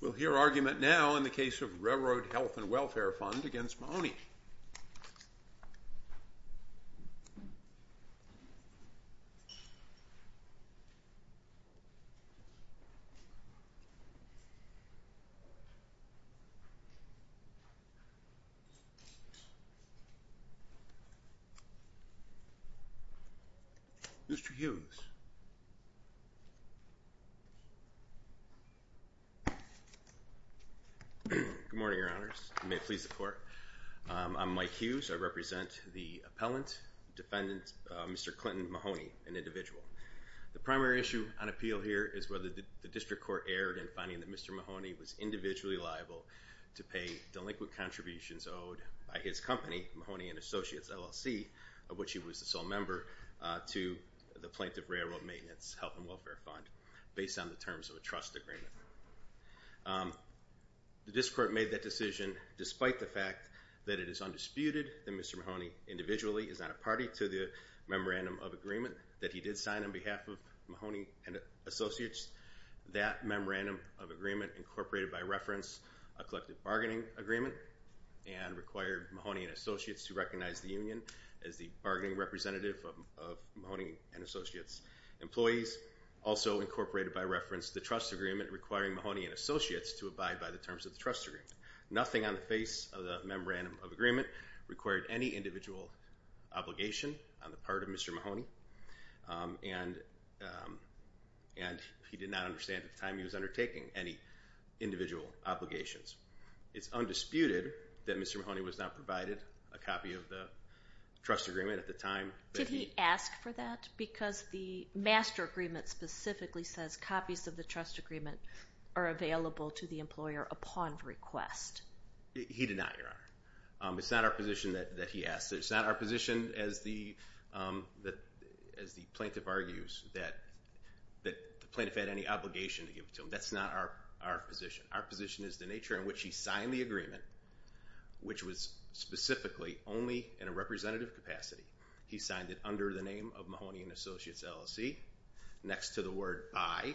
We'll hear argument now in the case of Railroad Health & Welfare Fund v. Mahoney. Mr. Hughes. Good morning, Your Honors. May it please the Court. I'm Mike Hughes. I represent the appellant, defendant, Mr. Clinton Mahoney, an individual. The primary issue on appeal here is whether the District Court erred in finding that Mr. Mahoney was individually liable to pay delinquent contributions owed by his company, Mahoney & Associates, LLC, of which he was the sole member, to the Plaintiff Railroad Maintenance Health & Welfare Fund based on the terms of a trust agreement. The District Court made that decision despite the fact that it is undisputed that Mr. Mahoney individually is not a party to the memorandum of agreement that he did sign on behalf of Mahoney & Associates. That memorandum of agreement incorporated by reference a collective bargaining agreement and required Mahoney & Associates to recognize the union as the bargaining representative of Mahoney & Associates employees. Also incorporated by reference the trust agreement requiring Mahoney & Associates to abide by the terms of the trust agreement. Nothing on the face of the memorandum of agreement required any individual obligation on the part of Mr. Mahoney and he did not understand at the time he was undertaking any individual obligations. It's he asked for that because the master agreement specifically says copies of the trust agreement are available to the employer upon request. He did not, Your Honor. It's not our position that he asked. It's not our position as the plaintiff argues that the plaintiff had any obligation to give it to him. That's not our position. Our position is the nature in which he signed the agreement which was specifically only in a representative capacity. He signed it under the name of Mahoney & Associates LLC next to the word by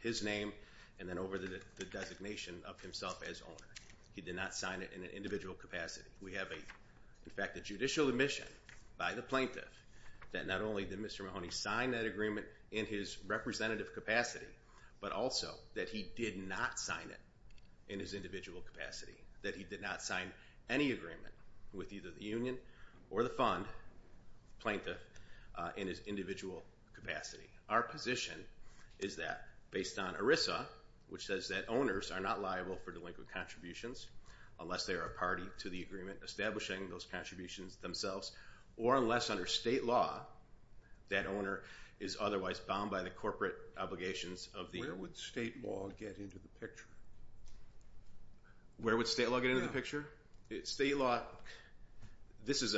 his name and then over the designation of himself as owner. He did not sign it in an individual capacity. We have a, in fact, a judicial admission by the plaintiff that not only did Mr. Mahoney sign that agreement in his representative capacity but also that he did not sign it in his individual capacity. That he did not sign any agreement with either the union or the fund plaintiff in his individual capacity. Our position is that based on ERISA which says that owners are not liable for delinquent contributions unless they are a party to the agreement establishing those contributions themselves or unless under state law that owner is otherwise bound by corporate obligations. Where would state law get into the picture? State law, this is,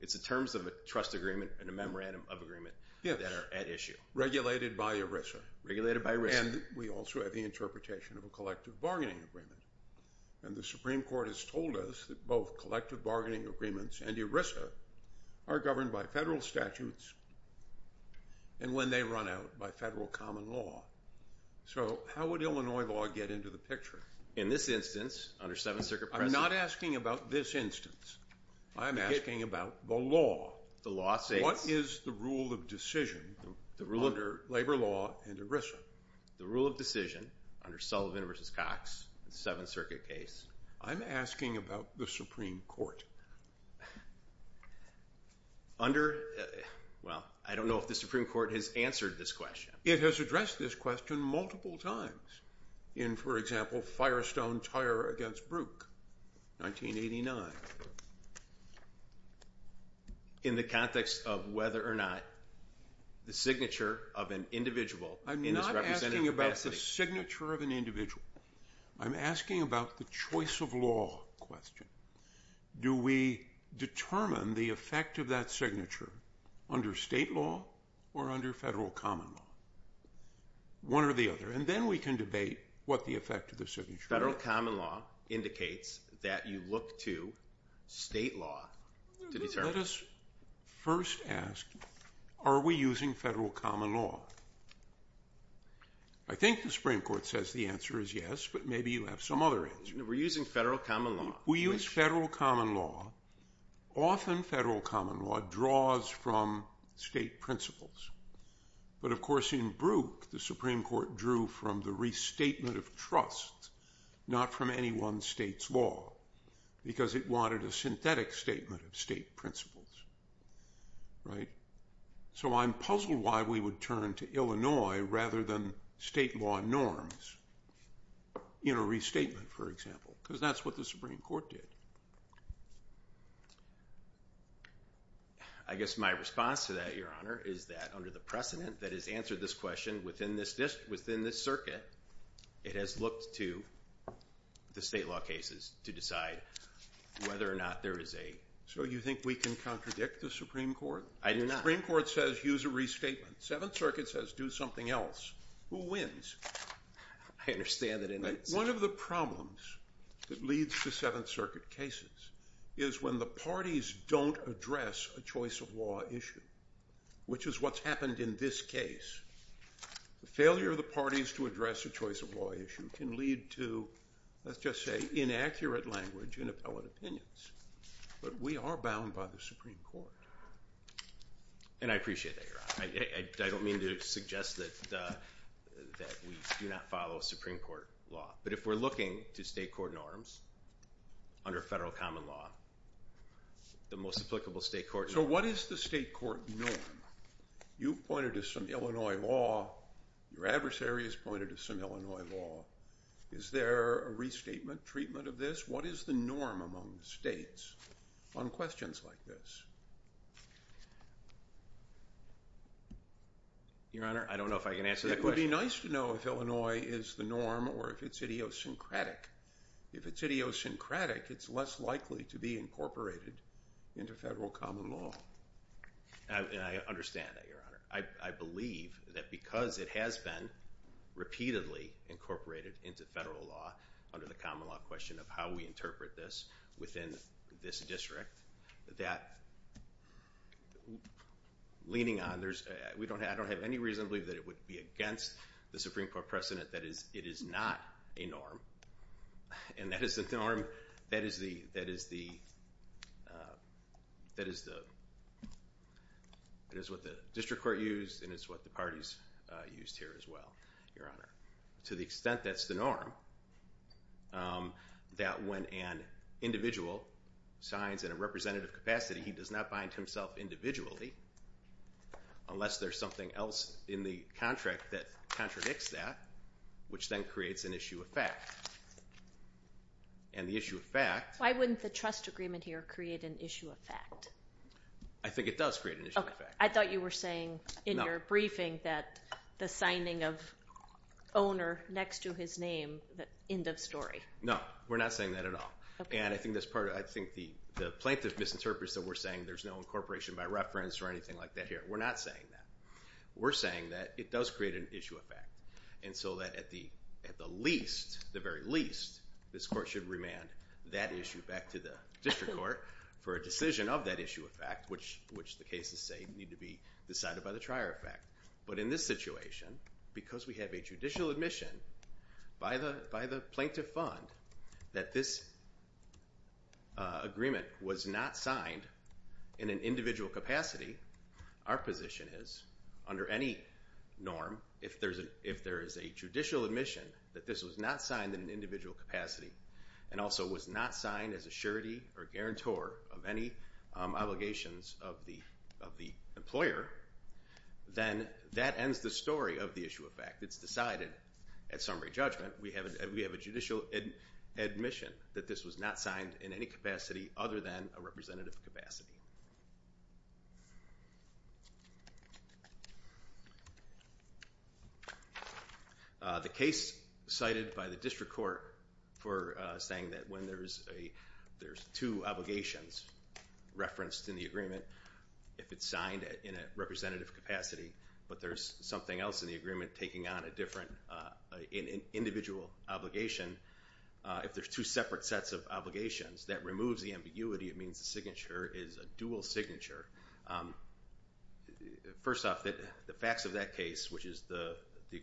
it's the terms of a trust agreement and a memorandum of agreement that are at issue. Regulated by ERISA. Regulated by ERISA. And we also have the interpretation of a collective bargaining agreement. And the Supreme Court has told us that both collective bargaining agreements and ERISA are governed by federal statutes and when they run out by federal common law. So how would Illinois law get into the picture? In this instance, under 7th Circuit precedent. I'm not asking about this instance. I'm asking about the law. The law states. What is the rule of decision under labor law and ERISA? The rule of decision under Sullivan v. Cox, 7th Circuit case. I'm asking about the Supreme Court. Under, well, I don't know if the Supreme Court has answered this question. It has addressed this question multiple times. In, for example, Firestone Tire v. Brook, 1989. In the context of whether or not the signature of an individual in this representative capacity. I'm not asking about the signature of an individual. I'm asking about the choice of law question. Do we determine the effect of that signature under state law or under federal common law? One or the other. And then we can debate what the effect of the signature is. Federal common law indicates that you look to state law to determine. Let us first ask, are we using federal common law? I think the Supreme Court says the answer is yes, but maybe you have some other answer. We're using federal common law. We use federal common law. Often federal common law draws from state principles. But of course in Brook, the Supreme Court drew from the restatement of trust, not from any one state's law. Because it wanted a synthetic statement of state principles. Right? So I'm puzzled why we would turn to Illinois rather than state law norms in a restatement, for example. Because that's what the Supreme Court did. I guess my response to that, Your Honor, is that under the precedent that has answered this question within this circuit, it has looked to the state law cases to decide whether or not there is a... So you think we can contradict the Supreme Court? I do not. The Supreme Court says use a restatement. Seventh Circuit says do something else. Who wins? I understand that... One of the problems that leads to Seventh Circuit cases is when the parties don't address a choice of law issue, which is what's happened in this case. The failure of the parties to address a choice of law issue can lead to, let's just say, inaccurate language and appellate opinions. But we are bound by the Supreme Court. And I appreciate that, Your Honor. I don't mean to suggest that we do not follow Supreme Court law. But if we're looking to state court norms under federal common law, the most applicable state court... So what is the state court norm? You've pointed to some Illinois law. Your adversary has pointed to some Illinois law. Is there a restatement treatment of this? What is the norm among the states on questions like this? Your Honor, I don't know if I can If it's idiosyncratic, it's less likely to be incorporated into federal common law. And I understand that, Your Honor. I believe that because it has been repeatedly incorporated into federal law under the common law question of how we interpret this within this district, that leaning on... I don't have any reason to believe that it would be against the Supreme Court. But it is not a norm. And that is the norm. That is what the district court used, and it's what the parties used here as well, Your Honor. To the extent that's the norm, that when an individual signs in a representative capacity, he does not bind himself individually unless there's something else in the contract that contradicts that, which then creates an issue of fact. And the issue of fact... Why wouldn't the trust agreement here create an issue of fact? I think it does create an issue of fact. I thought you were saying in your briefing that the signing of owner next to his name, end of story. No, we're not saying that at all. And I think the plaintiff misinterprets that we're saying there's no incorporation by reference or anything like that here. We're not saying that. We're saying that it does create an issue of fact. And so that at the least, the very least, this court should remand that issue back to the district court for a decision of that issue of fact, which the cases say need to be decided by the trier of fact. But in this situation, because we have a judicial admission by the plaintiff fund that this agreement was not signed in an individual capacity, our position is, under any norm, if there is a judicial admission that this was not signed in an individual capacity, and also was not signed as a surety or guarantor of any obligations of the employer, then that ends the story of the issue of fact. It's decided at summary judgment. We have a judicial admission that this was not signed in any capacity other than a representative capacity. The case cited by the district court for saying that when there's two obligations referenced in the agreement, if it's signed in a representative capacity, but there's something else in the individual obligation, if there's two separate sets of obligations, that removes the ambiguity. It means the signature is a dual signature. First off, the facts of that case, which is the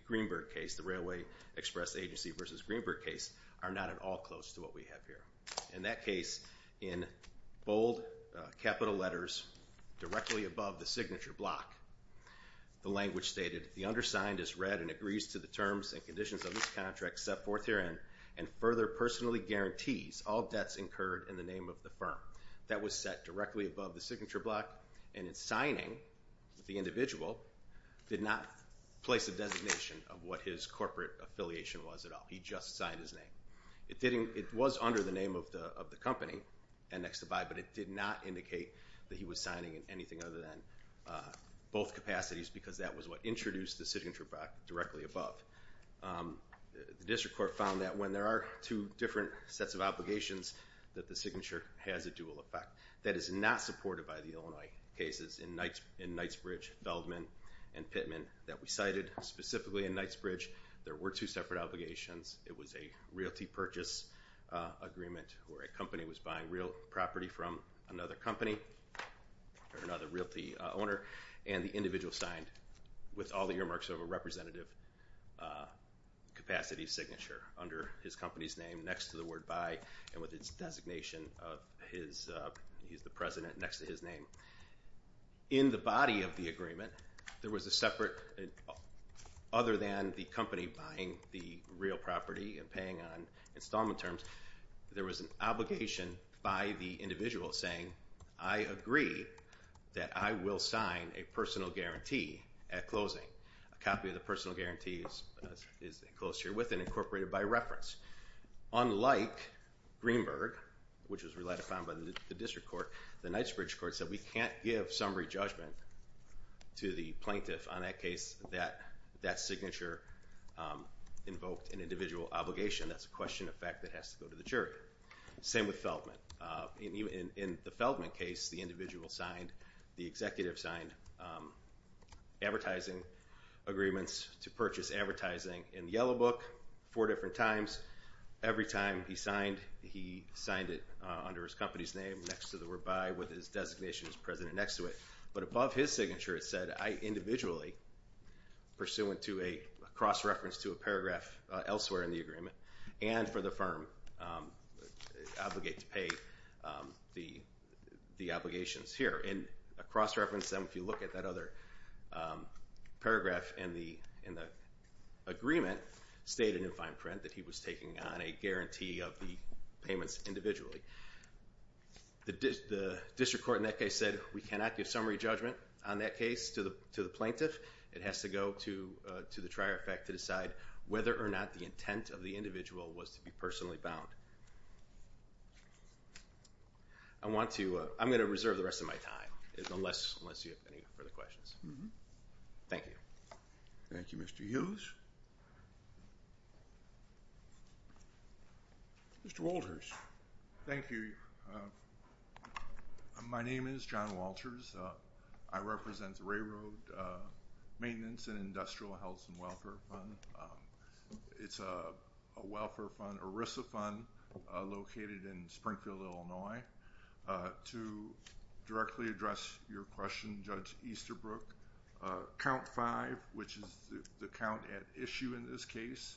Greenberg case, the Railway Express Agency versus Greenberg case, are not at all close to what we have here. In that case, in bold capital letters directly above the signature block, the language stated, the undersigned has read and agrees to the terms and conditions of this contract set forth herein, and further personally guarantees all debts incurred in the name of the firm. That was set directly above the signature block, and in signing, the individual did not place a designation of what his corporate affiliation was at all. He just signed his name. It was under the name of the company, and next to by, but it did not indicate that he was signing in anything other than both capacities, because that was what introduced the signature block directly above. The district court found that when there are two different sets of obligations, that the signature has a dual effect. That is not supported by the Illinois cases in Knightsbridge, Feldman, and Pittman that we cited. Specifically in Knightsbridge, there were two separate obligations. It was a realty purchase agreement where a company was buying real property from another company or another realty owner, and the individual signed with all the earmarks of a representative capacity signature under his company's name next to the word by, and with its designation of his, he's the president, next to his name. In the body of the agreement, there was a separate, other than the company buying the real property and paying on installment terms, there was an obligation by the individual saying, I agree that I will sign a personal guarantee at closing. A copy of the personal guarantee is enclosed here with and incorporated by reference. Unlike Greenberg, which was relied upon by the district court, the Knightsbridge court said, we can't give summary judgment to the plaintiff on that case that that signature invoked an individual obligation. That's a question of fact that has to go to the jury. Same with Feldman. In the Feldman case, the individual signed, the executive signed advertising agreements to purchase advertising in Yellow Book four different times. Every time he signed, he signed it under his company's name next to the word by, with his designation as president next to it. But above his signature, it said, I individually, pursuant to a cross-reference to a paragraph elsewhere in the agreement, and for the firm obligate to pay the obligations here. And a cross-reference then, if you look at that other paragraph in the agreement, stated in fine print that he was taking on a guarantee of the payments individually. The district court in that case said, we cannot give summary judgment on that case to the plaintiff. It has to go to the trier of fact to decide whether or not the intent of the individual was to be personally bound. I want to, I'm going to reserve the rest of my time unless you have any further questions. Thank you. Thank you, Mr. Hughes. Mr. Walters. Thank you. My name is John Walters. I represent the Railroad Maintenance and Industrial Health and Welfare Fund. It's a welfare fund, ERISA fund located in Springfield, Illinois. To directly address your question, Judge Easterbrook, count five, which is the count at issue in this case,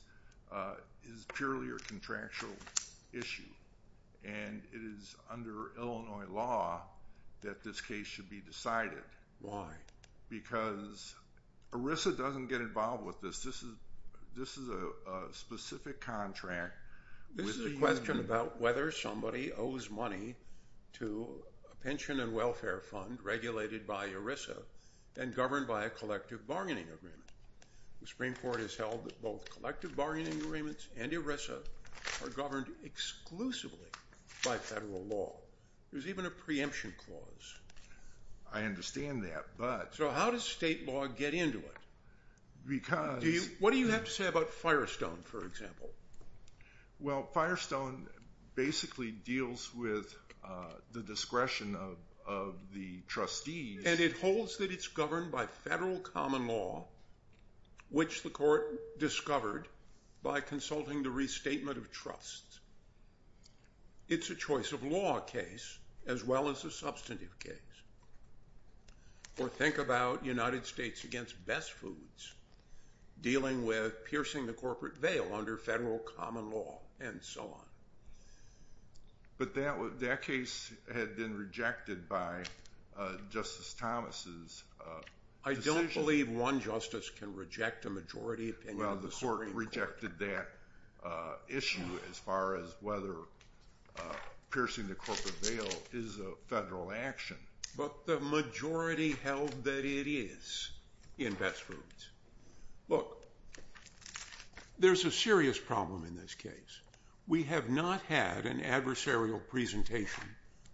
is purely a contractual issue. And it is under Illinois law that this case should be decided. Why? Because ERISA doesn't get involved with this. This is a specific contract. This is a question about whether somebody owes money to a pension and welfare fund regulated by ERISA. And governed by a collective bargaining agreement. The Supreme Court has held that both collective bargaining agreements and ERISA are governed exclusively by federal law. There's even a preemption clause. I understand that, but. So how does state law get into it? Because. What do you have to say about Firestone, for example? Well, Firestone basically deals with the discretion of the trustees. And it holds that it's governed by federal common law, which the court discovered by consulting the restatement of trust. It's a choice of law case as well as a substantive case. Or think about United States against Best Foods dealing with piercing the corporate veil under federal common law and so on. But that case had been rejected by Justice Thomas's decision. I don't believe one justice can reject a majority opinion of the Supreme Court. Well, the court rejected that issue as far as whether piercing the corporate veil is a federal action. But the majority held that it is in Best Foods. Look, there's a serious problem in this case. We have not had an adversarial presentation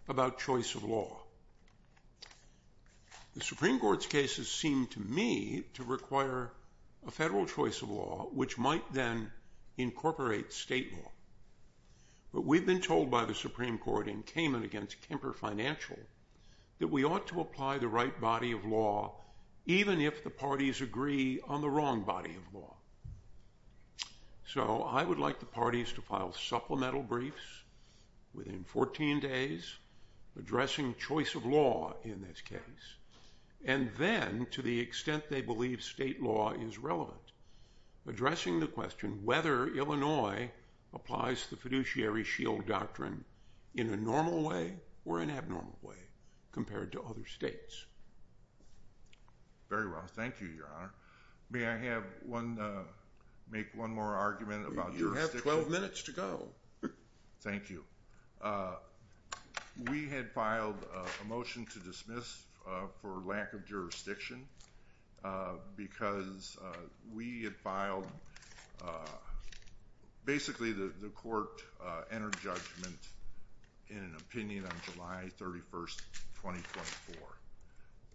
about choice of law. The Supreme Court's cases seem to me to require a federal choice of law, which might then incorporate state law. But we've been told by the Supreme Court in Cayman against Kemper Financial that we ought to apply the right body of law, even if the parties agree on the wrong body of law. So I would like the parties to file supplemental briefs within 14 days addressing choice of law in this case. And then, to the extent they believe state law is relevant, addressing the question whether Illinois applies the fiduciary shield doctrine in a normal way or an abnormal way compared to other states. Very well. Thank you, Your Honor. May I make one more argument about jurisdiction? You have 12 minutes to go. Thank you. We had filed a motion to dismiss for lack of jurisdiction because we had filed—basically, the court entered judgment in an opinion on July 31, 2024.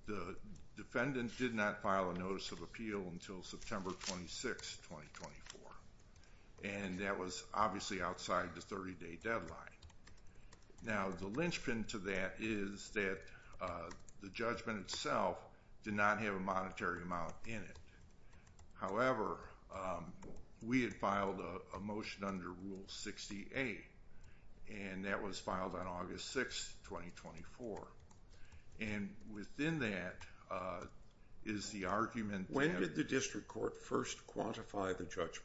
The defendant did not file a notice of appeal until September 26, 2024. And that was obviously outside the 30-day deadline. Now, the linchpin to that is that the judgment itself did not have a monetary amount in it. However, we had filed a motion under Rule 68, and that was filed on August 6, 2024. And within that is the argument that— When did the district court first quantify the judgment?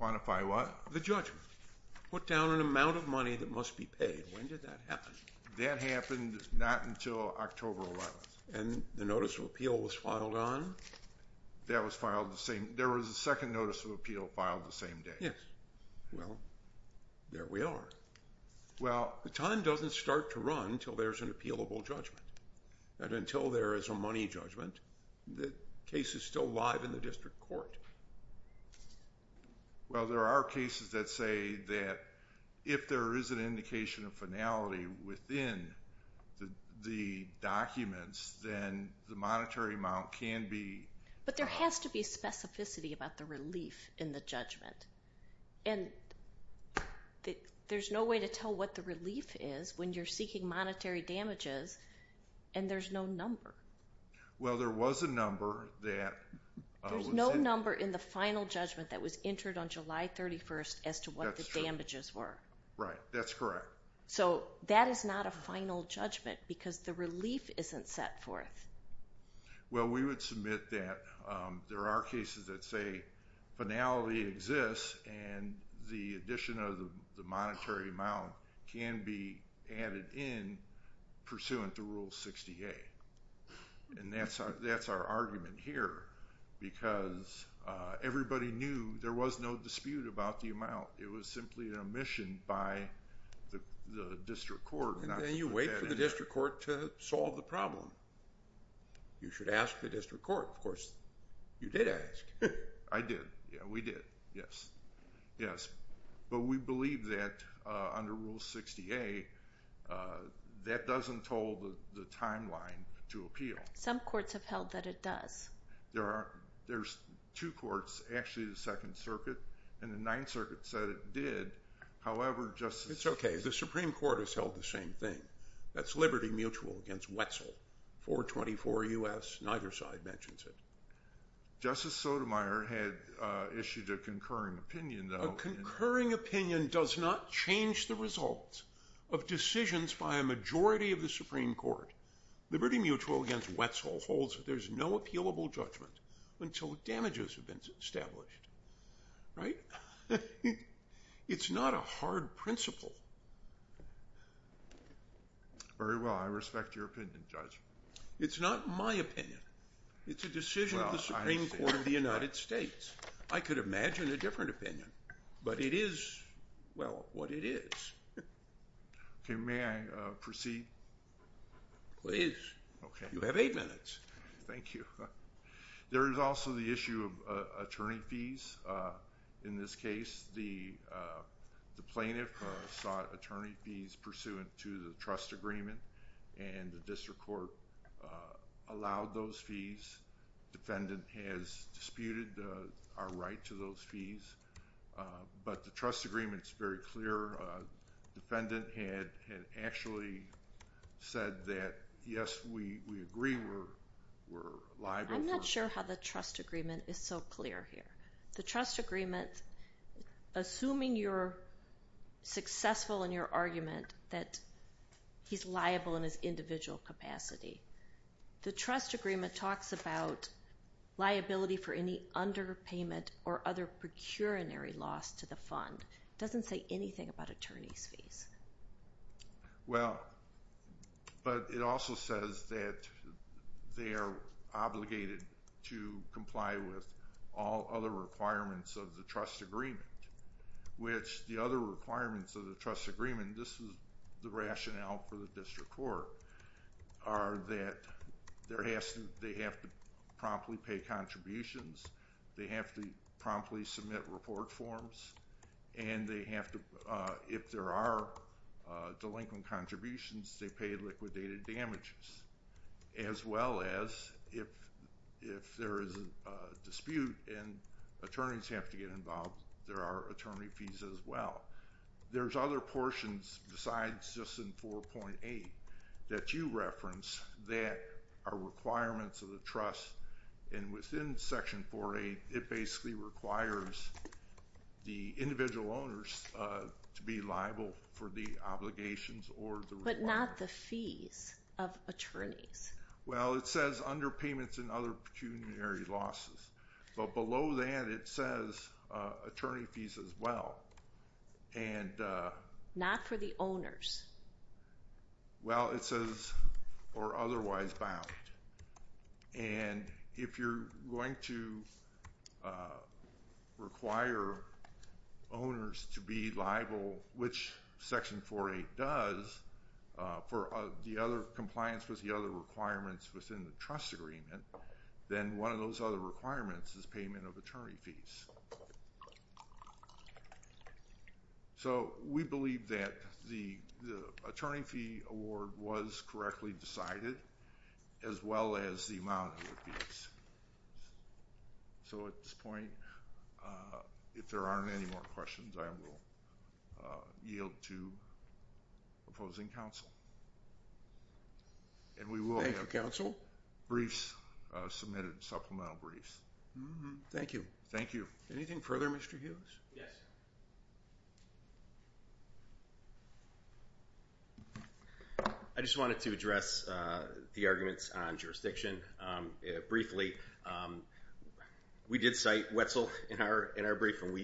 Quantify what? The judgment. Put down an amount of money that must be paid. When did that happen? That happened not until October 11. And the notice of appeal was filed on? That was filed the same—there was a second notice of appeal filed the same day. Yes. Well, there we are. Well, the time doesn't start to run until there's an appealable judgment. And until there is a money judgment, the case is still live in the district court. Well, there are cases that say that if there is an indication of finality within the documents, then the monetary amount can be— But there has to be specificity about the relief in the judgment. And there's no way to tell what the relief is when you're seeking monetary damages, and there's no number. Well, there was a number that— There's no number in the final judgment that was entered on July 31 as to what the damages were. Right. That's correct. So that is not a final judgment because the relief isn't set forth. Well, we would submit that there are cases that say finality exists and the addition of the monetary amount can be added in pursuant to Rule 68. And that's our argument here because everybody knew there was no dispute about the amount. It was simply an omission by the district court. And then you wait for the district court to solve the problem. You should ask the district court. Of course, you did ask. I did. Yeah, we did. Yes. Yes. But we believe that under Rule 68, that doesn't hold the timeline to appeal. Some courts have held that it does. There's two courts, actually, the Second Circuit and the Ninth Circuit said it did. It's okay. The Supreme Court has held the same thing. That's Liberty Mutual against Wetzel, 424 U.S. Neither side mentions it. Justice Sotomayor had issued a concurring opinion, though. A concurring opinion does not change the results of decisions by a majority of the Supreme Court. Liberty Mutual against Wetzel holds that there's no appealable judgment until damages have been established. Right? It's not a hard principle. Very well. I respect your opinion, Judge. It's not my opinion. It's a decision of the Supreme Court of the United States. I could imagine a different opinion, but it is, well, what it is. Okay. May I proceed? Please. You have eight minutes. Thank you. There is also the issue of attorney fees. In this case, the plaintiff sought attorney fees pursuant to the trust agreement, and the district court allowed those fees. Defendant has disputed our right to those fees. But the trust agreement is very clear. Defendant had actually said that, yes, we agree we're liable. I'm not sure how the trust agreement is so clear here. The trust agreement, assuming you're successful in your argument that he's liable in his individual capacity, the trust agreement talks about liability for any underpayment or other procuratory loss to the fund. It doesn't say anything about attorney fees. Well, but it also says that they are obligated to comply with all other requirements of the trust agreement, which the other requirements of the trust agreement, this is the rationale for the district court, are that they have to promptly pay contributions, they have to promptly submit report forms, and they have to, if there are delinquent contributions, they pay liquidated damages, as well as if there is a dispute and attorneys have to get involved, there are attorney fees as well. There's other portions besides just in 4.8 that you reference that are requirements of the trust, and within Section 4.8 it basically requires the individual owners to be liable for the obligations or the requirement. But not the fees of attorneys. Well, it says underpayments and other procuratory losses, but below that it says attorney fees as well. Not for the owners. Well, it says or otherwise bound. And if you're going to require owners to be liable, which Section 4.8 does, for the other compliance with the other requirements within the trust agreement, then one of those other requirements is payment of attorney fees. So we believe that the attorney fee award was correctly decided, as well as the amount of fees. So at this point, if there aren't any more questions, I will yield to opposing counsel. Thank you, counsel. And we will have briefs submitted, supplemental briefs. Thank you. Thank you. Anything further, Mr. Hughes? Yes. I just wanted to address the arguments on jurisdiction briefly. We did cite Wetzel in our briefing,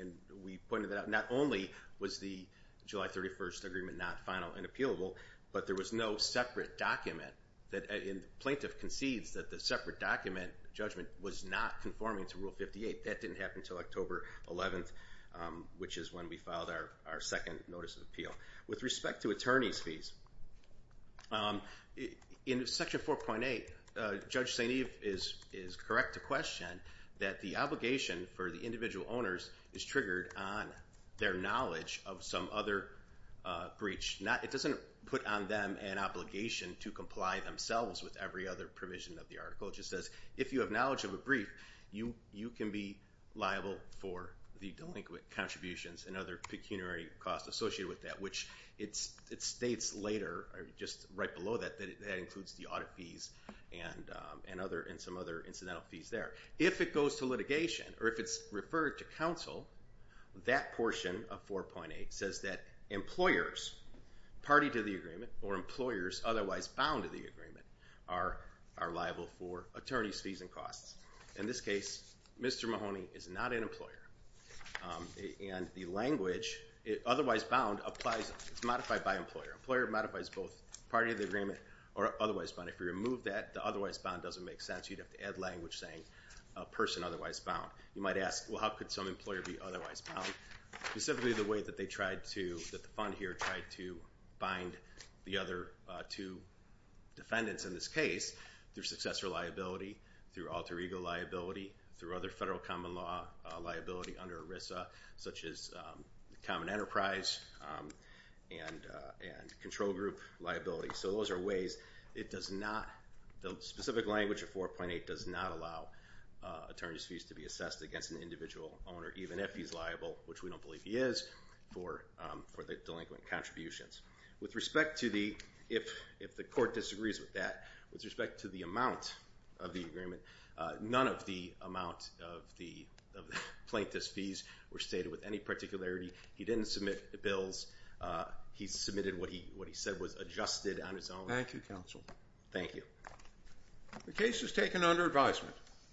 and we pointed that out. Not only was the July 31st agreement not final and appealable, but there was no separate document. The plaintiff concedes that the separate document judgment was not conforming to Rule 58. That didn't happen until October 11th, which is when we filed our second notice of appeal. With respect to attorney fees, in Section 4.8, Judge St. Eve is correct to question that the obligation for the individual owners is triggered on their knowledge of some other breach. It doesn't put on them an obligation to comply themselves with every other provision of the article. It just says, if you have knowledge of a brief, you can be liable for the delinquent contributions and other pecuniary costs associated with that, which it states later, just right below that, that includes the audit fees and some other incidental fees there. If it goes to litigation, or if it's referred to counsel, that portion of 4.8 says that employers party to the agreement or employers otherwise bound to the agreement are liable for attorney's fees and costs. In this case, Mr. Mahoney is not an employer, and the language, otherwise bound, it's modified by employer. Employer modifies both party of the agreement or otherwise bound. If you remove that, the otherwise bound doesn't make sense. You'd have to add language saying a person otherwise bound. You might ask, well, how could some employer be otherwise bound? Specifically the way that the fund here tried to bind the other two defendants in this case, through successor liability, through alter ego liability, through other federal common law liability under ERISA, such as common enterprise and control group liability. So those are ways it does not, the specific language of 4.8 does not allow attorney's fees to be assessed against an individual owner, even if he's liable, which we don't believe he is, for the delinquent contributions. With respect to the, if the court disagrees with that, with respect to the amount of the agreement, none of the amount of the plaintiff's fees were stated with any particularity. He didn't submit the bills. He submitted what he said was adjusted on his own. Thank you, counsel. Thank you. The case is taken under advisement.